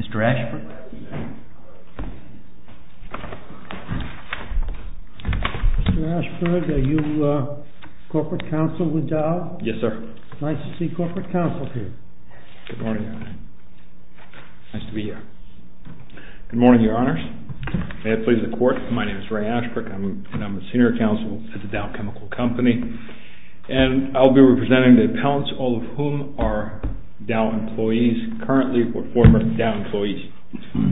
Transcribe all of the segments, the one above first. Mr. Ashford. Mr. Ashford, are you Corporate Counsel with Dow? Yes, sir. Nice to see Corporate Counsel here. Good morning. Nice to be here. Good morning, Your Honors. May it please the Court, my name is Ray Ashford, and I'm a Senior Counsel at the Dow Chemical Company, and I'll be representing the appellants, all of whom are Dow employees, currently, or former Dow employees.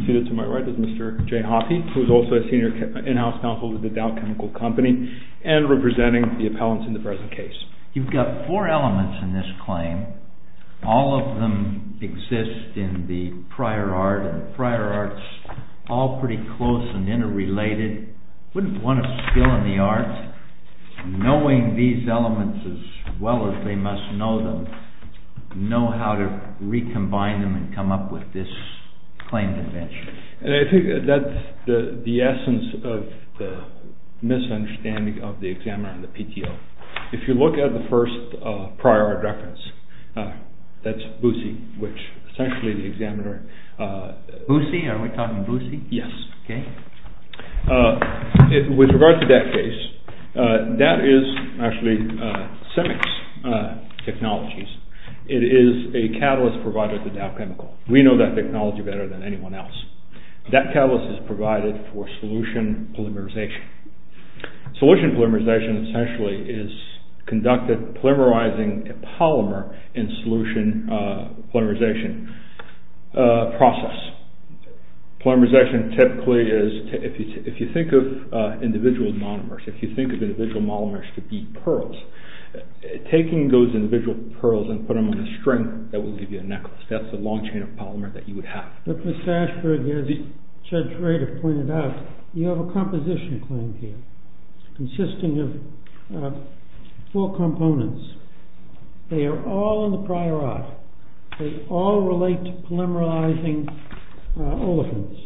Seated to my right is Mr. Jay Hoffey, who is also a Senior In-House Counsel with the Dow Chemical Company, and representing the appellants in the present case. You've got four elements in this claim. All of them exist in the prior art, and the prior art's all pretty close and interrelated. Wouldn't want a skill in the arts knowing these know how to recombine them and come up with this claim convention. I think that's the essence of the misunderstanding of the examiner and the PTO. If you look at the first prior art reference, that's BUSI, which essentially the examiner... BUSI? Are we talking BUSI? Yes. Okay. With regard to that case, that is actually CEMEX technologies. It is a catalyst provided to Dow Chemical. We know that technology better than anyone else. That catalyst is provided for solution polymerization. Solution polymerization essentially is conducted polymerizing a polymer in solution polymerization process. Polymerization typically is, if you think of individual monomers, if you think of individual monomers to be pearls, taking those individual pearls and put them on a string that will give you a necklace. That's the long chain of polymer that you would have. But Mr. Ashberg, as Judge Rader pointed out, you have a composition claim here consisting of four components. They are all in the olefins.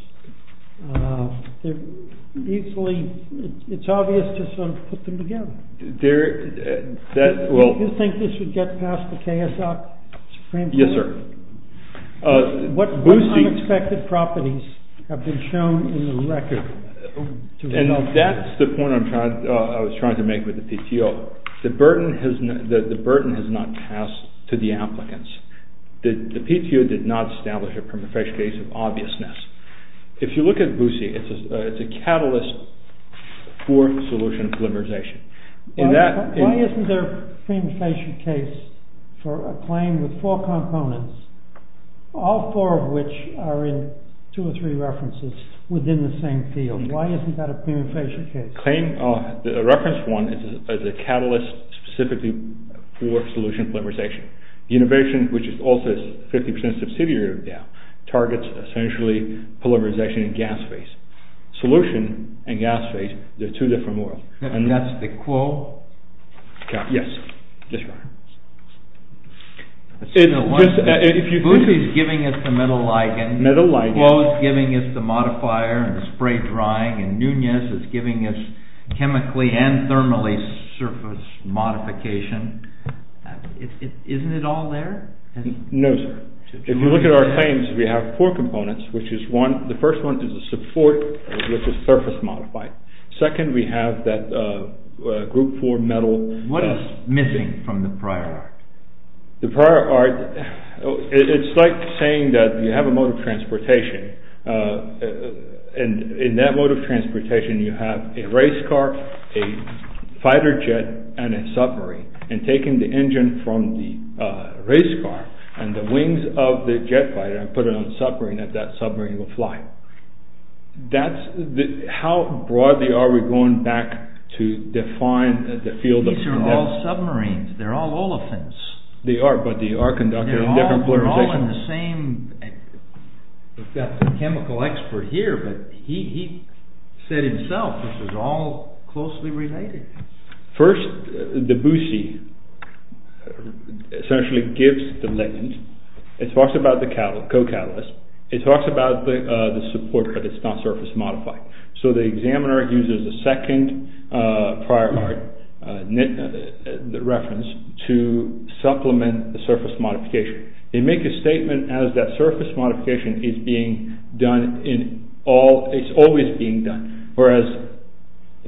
It's obvious to put them together. Do you think this would get past the KSOC? Yes, sir. What unexpected properties have been shown in the record? And that's the point I was trying to make with the PTO. The burden has not passed to the applicants. The PTO did not establish a prima facie case of obviousness. If you look at BUSI, it's a catalyst for solution polymerization. Why isn't there a prima facie case for a claim with four components, all four of which are in two or three references within the same field? Why isn't that a prima facie case? The reference one is a catalyst specifically for solution polymerization. The innovation, which is also a 50% subsidiary now, targets essentially polymerization and gas phase. Solution and gas phase, they're two different worlds. And that's the quo? Yes, that's right. BUSI is giving us the metal ligand, Quo is giving us the modifier and the spray drying, and Nunez is giving us chemically and thermally surface modification. Isn't it all there? No, sir. If you look at our claims, we have four components, which is one, the first one is a support, which is surface modified. Second, we have that group four metal. What is missing from the prior art? The prior art, it's like saying that you have a mode of transportation, and in that mode of transportation you have a race car, a fighter jet, and a submarine. And taking the engine from the race car and the wings of the jet fighter, and put it on the submarine, and that submarine will fly. How broadly are we going back to define the field? These are all submarines, they're all olefins. They are, but they are conducted in different polarizations. We've got the chemical expert here, but he said himself this is all closely related. First, the BUSI essentially gives the ligand, it talks about the co-catalyst, it talks about the support, but it's not surface modified. So the examiner uses the second prior art, the reference, to supplement the surface modification. They make a statement as that surface modification is being done in all, it's always being done, whereas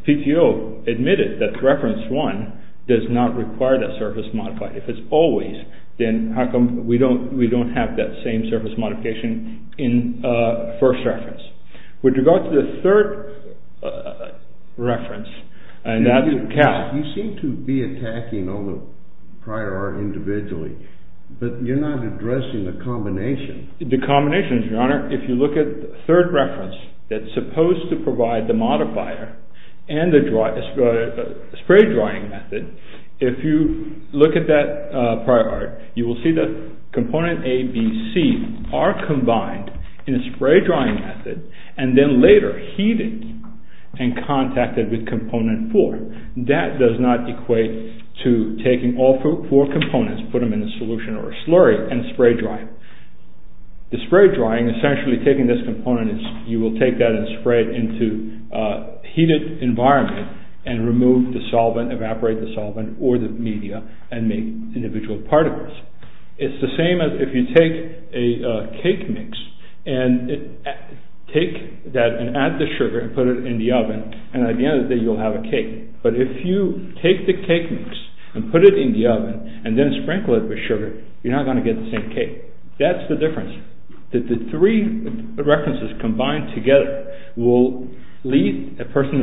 PTO admitted that reference one does not require that surface modified. If it's always, then how come we don't have that same surface modification in first reference. With regard to the third reference, that's a cat. You seem to be attacking all the prior art individually, but you're not addressing the combination. The combinations, your honor, if you look at the third reference that's supposed to provide the modifier, and the spray drying method, if you look at that prior art, you will see that component A, B, C are combined in a spray drying method, and then later heated and contacted with component four. That does not equate to taking all four components, put them in a solution or a slurry, and spray dry. The spray drying, essentially taking this component, you will take that and spray it into a heated environment, and remove the solvent, evaporate the solvent, or the media, and make individual particles. It's the same as if you take a cake mix, and add the sugar, and put it in the oven, and at the end of the day you'll have a cake. But if you take the cake mix, and put it in the oven, and then sprinkle it with sugar, you're not going to get the same cake. That's the difference. That the three references combined together will leave a person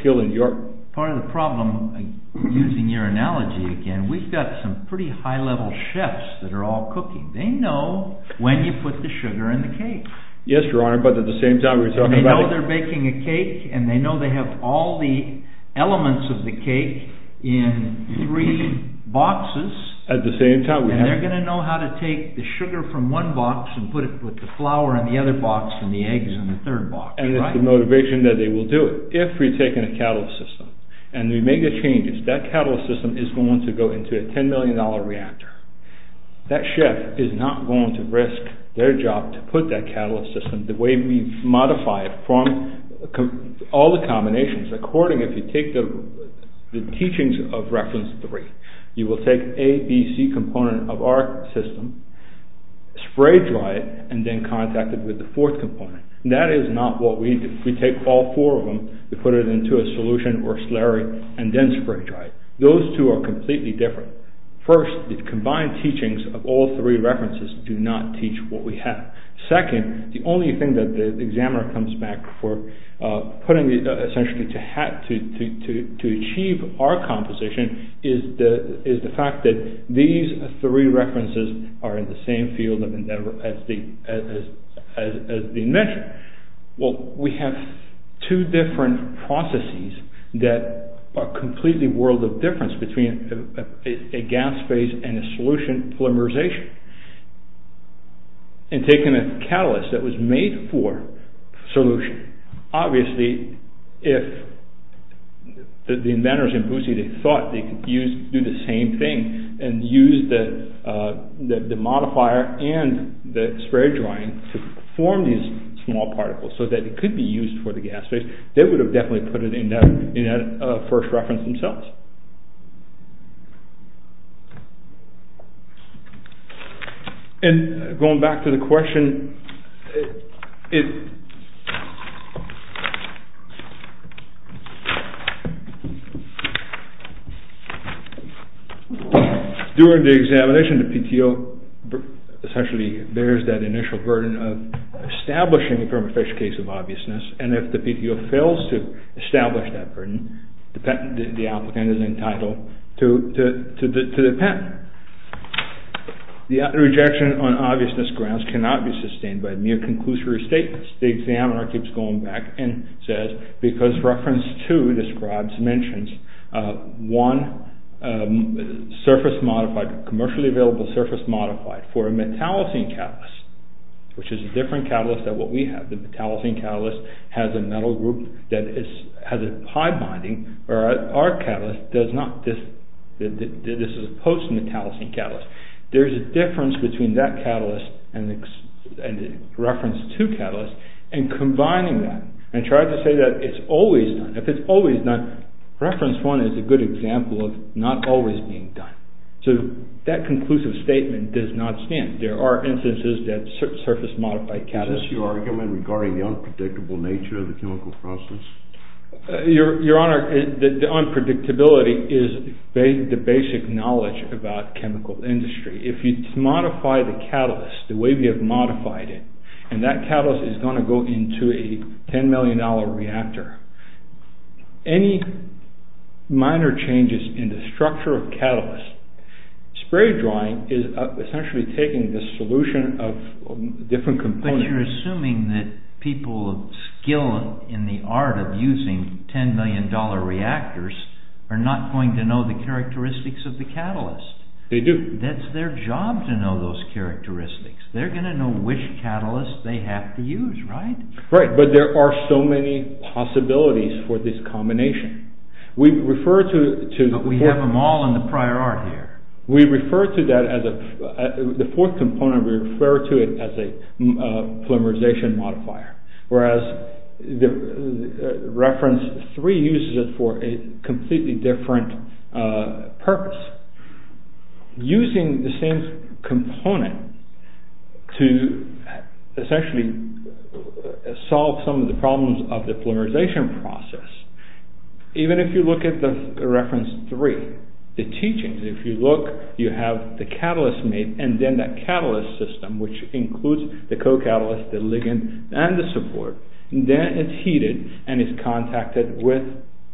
skilled in your... Part of the problem, using your analogy again, we've got some pretty high-level chefs that are all cooking. They know when you put the sugar in the cake. Yes, Your Honor, but at the same time we're talking about... They know they're baking a cake, and they know they have all the elements of the cake in three boxes. At the same time we have... And they're going to know how to take the sugar from one box, and put it with the flour in the other box, and the eggs in the third box. And it's the motivation that they will do it. If we're taking a catalyst system, and we make the changes, that catalyst system is going to go into a ten million dollar reactor. That chef is not going to risk their job to put that catalyst system the way we've modified from all the combinations. According, if you take the teachings of reference three, you will take A, B, C component of our system, spray-dry it, and then contact it with the fourth component. That is not what we do. We take all four of them, we put it into a solution or slurry, and then spray-dry it. Those two are completely different. First, the combined teachings of all three references do not teach what we have. Second, the only thing that the examiner comes back for putting essentially to achieve our composition is the fact that these three references are in the same field of endeavor as the invention. Well, we have two different processes that are completely world of difference between a gas phase and a solution polymerization. And taking a catalyst that was made for solution, obviously, if the inventors in Boosie, they thought they could do the same thing and use the modifier and the spray drying to form these small particles so that it could be used for the gas phase, they would have definitely put it in that first reference themselves. And going back to the question, it, during the examination, the PTO essentially bears that initial burden of establishing a permafixed case of obviousness. And if the PTO fails to establish that burden, the patent, the mere conclusory statements, the examiner keeps going back and says, because reference two describes, mentions, one surface modified, commercially available surface modified for a metallocene catalyst, which is a different catalyst than what we have. The metallocene catalyst has a metal group that has a high binding, whereas our catalyst does not. This is a post-metallocene catalyst. There's a difference between that catalyst and the reference two catalyst and combining that and try to say that it's always done. If it's always done, reference one is a good example of not always being done. So that conclusive statement does not stand. There are instances that surface modified catalysts... Is this your argument regarding the unpredictable nature of the chemical process? Your Honor, the unpredictability is the basic knowledge about chemical industry. If you modify the catalyst, the way we have modified it, and that catalyst is going to go into a 10 million dollar reactor, any minor changes in the structure of catalyst, spray drying is essentially taking the solution of different components... But you're assuming that people skilled in the art of using 10 million dollar reactors are not going to know the characteristics of the catalyst. They do. That's their job to know those characteristics. They're going to know which catalyst they have to use, right? Right, but there are so many possibilities for this combination. We refer to... But we have them all in the prior art here. We refer to that as a... Reference three uses it for a completely different purpose. Using the same component to essentially solve some of the problems of the polymerization process. Even if you look at the reference three, the teachings, if you look, you have the catalyst and then that catalyst system, which includes the co-catalyst, the ligand, and the support, then it's heated and it's contacted with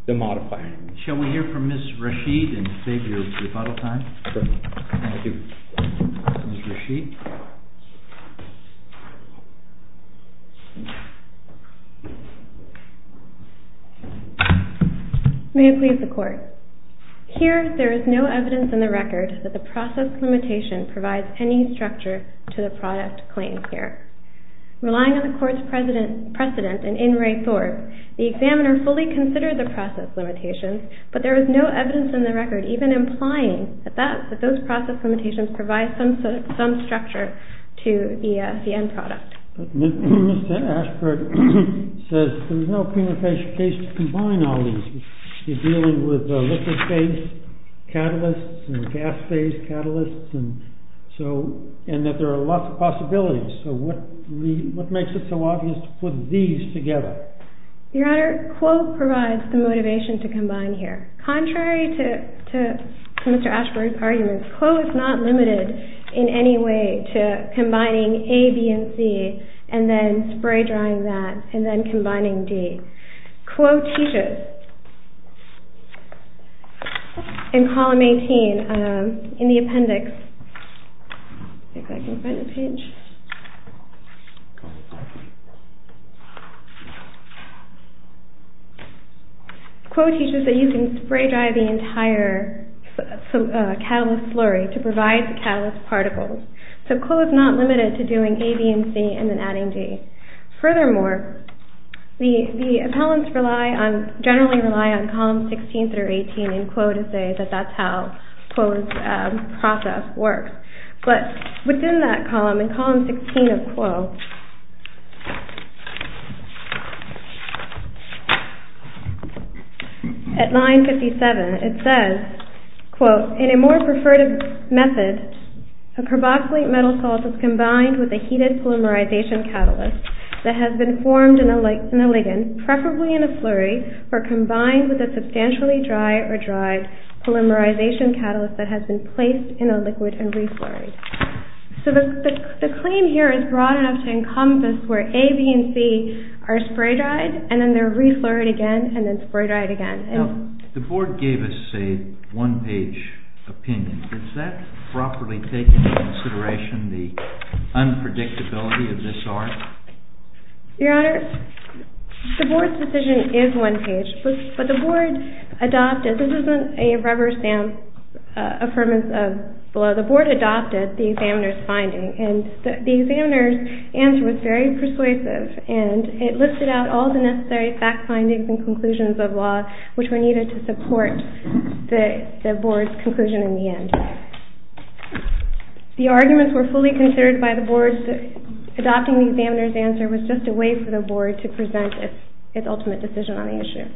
the modifier. Shall we hear from Ms. Rashid and save your rebuttal time? Thank you. Ms. Rashid. May it please the court. Here, there is no evidence in the record that the process limitation provides any structure to the product claims here. Relying on the court's precedent and in re-thought, the examiner fully considered the process limitation, but there is no evidence in the record even implying that those process limitations provide some structure to the end product. Mr. Ashford says there's no prima facie case to combine all these. You're dealing with liquid phase catalysts and gas phase catalysts, and that there are lots of possibilities. So what makes it so obvious to put these together? Your Honor, Quote provides the motivation to Mr. Ashford's argument. Quote is not limited in any way to combining A, B, and C, and then spray drying that, and then combining D. Quote teaches in column 18 in the appendix, if I can find the page, Quote teaches that you can spray dry the entire catalyst flurry to provide the catalyst particles. So Quote is not limited to doing A, B, and C, and then adding D. Furthermore, the appellants generally rely on column 16 through 18 in Quote to say that that's how it's done. In column 16 of Quote, at line 57, it says, Quote, in a more preferred method, a carboxylate metal salt is combined with a heated polymerization catalyst that has been formed in a ligand, preferably in a flurry, or combined with a substantially dry or dry polymerization catalyst that has been placed in a liquid and reflurried. So the claim here is broad enough to encompass where A, B, and C are spray dried, and then they're reflurried again, and then spray dried again. Now, the Board gave us a one-page opinion. Does that properly take into consideration the unpredictability of this art? Your Honor, the Board's decision is one-page, but the Board adopted, this isn't a rubber stamp affirmance of the law, the Board adopted the examiner's finding, and the examiner's answer was very persuasive, and it listed out all the necessary fact findings and conclusions of law which were needed to support the Board's conclusion in the end. The arguments were fully considered by the Board. Adopting the examiner's answer was just a way for the Board to present its ultimate decision on the issue.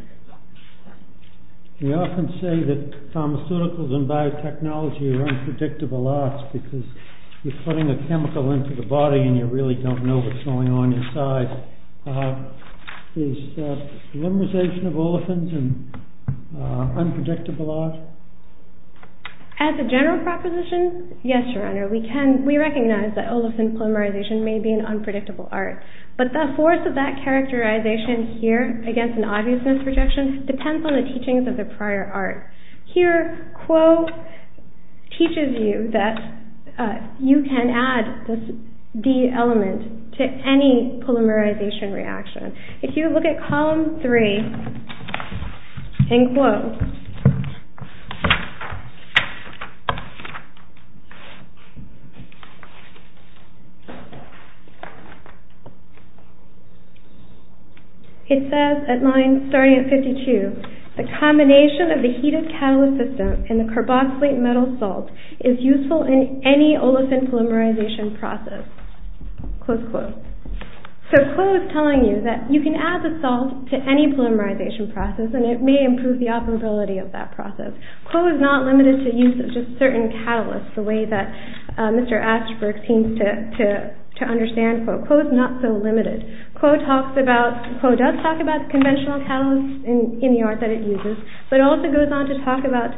We often say that pharmaceuticals and biotechnology are unpredictable arts because you're putting a chemical into the body and you really don't know what's going on inside. Is polymerization of olefins an unpredictable art? As a general proposition, yes, Your Honor, we can, we recognize that olefin polymerization may be an unpredictable art, but the force of that characterization here against an obviousness projection depends on the teachings of the prior art. Here, Quo teaches you that you can add this D element to any polymerization reaction. If you look at column three in Quo, it says at line starting at 52, the combination of the heated catalyst system and the carboxylate metal salt is useful in any olefin polymerization process, close quote. So Quo is telling you that you can add the salt to any polymerization process and it may improve the operability of that process. Quo is not limited to use of just certain catalysts, the way that Mr. Aschberg seems to understand Quo. Quo is not so limited. Quo does talk about conventional catalysts in the art that it uses, but also goes on to talk about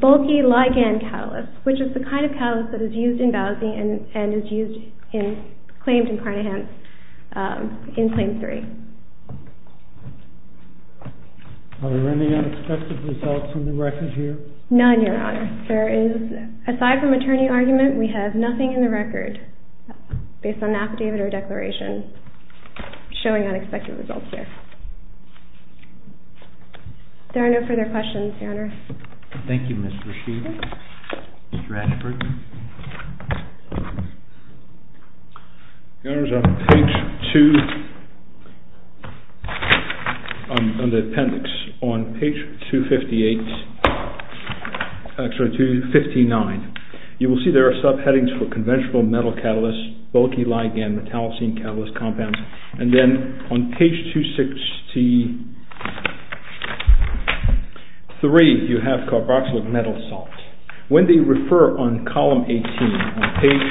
bulky ligand catalysts, which is the kind of catalyst that is used in Bowsie and is used in, claimed in Carnahan in claim three. Are there any unexpected results in the record here? None, Your Honor. There is, aside from attorney argument, we have nothing in the record based on affidavit or declaration showing unexpected results here. There are no further questions, Your Honor. Thank you, Ms. Rashid, Mr. Aschberg. Your Honor, on page two, on the appendix, on page 258, actually 259, you will see there are subheadings for conventional metal catalysts, bulky ligand, metallocene catalyst compounds, and then on page 263 you have carboxylate metal salt. When they refer on column 18, on page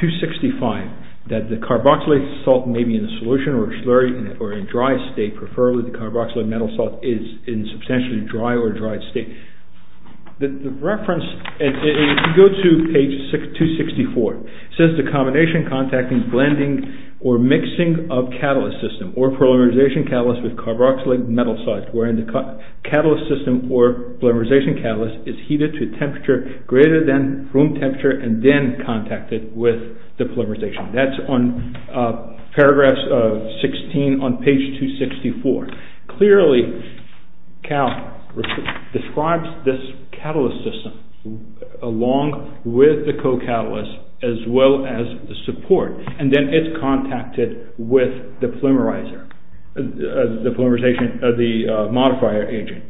265, that the carboxylate salt may be in a solution or slurry or in dry state, preferably the carboxylate metal salt is in substantially dry or dried state, the reference, if you go to page 264, it says the combination, contacting, blending, or mixing of catalyst system or polymerization catalyst with carboxylate metal salt, wherein the catalyst system or polymerization catalyst is heated to temperature greater than room temperature and then contacted with the polymerization. That's on paragraphs of 16 on page 264. Clearly, Cal describes this catalyst system along with the co-catalyst as well as the support, and then it's contacted with the polymerizer, the polymerization, the modifier agent.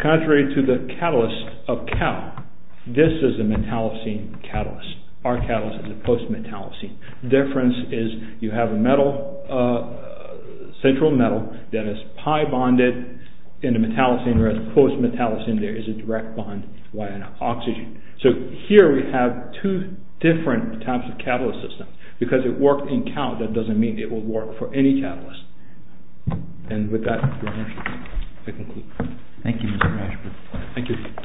Contrary to the catalyst of Cal, this is a metallocene catalyst. Our catalyst is a post-metallocene. Difference is you have a metal, a central metal that is pi-bonded in a metallocene, whereas post-metallocene, there is a direct bond, oxygen. Here we have two different types of catalyst systems. Because it worked in Cal, that doesn't mean it will work for any catalyst. And with that, I conclude. Thank you, Mr. Mashburn. Thank you.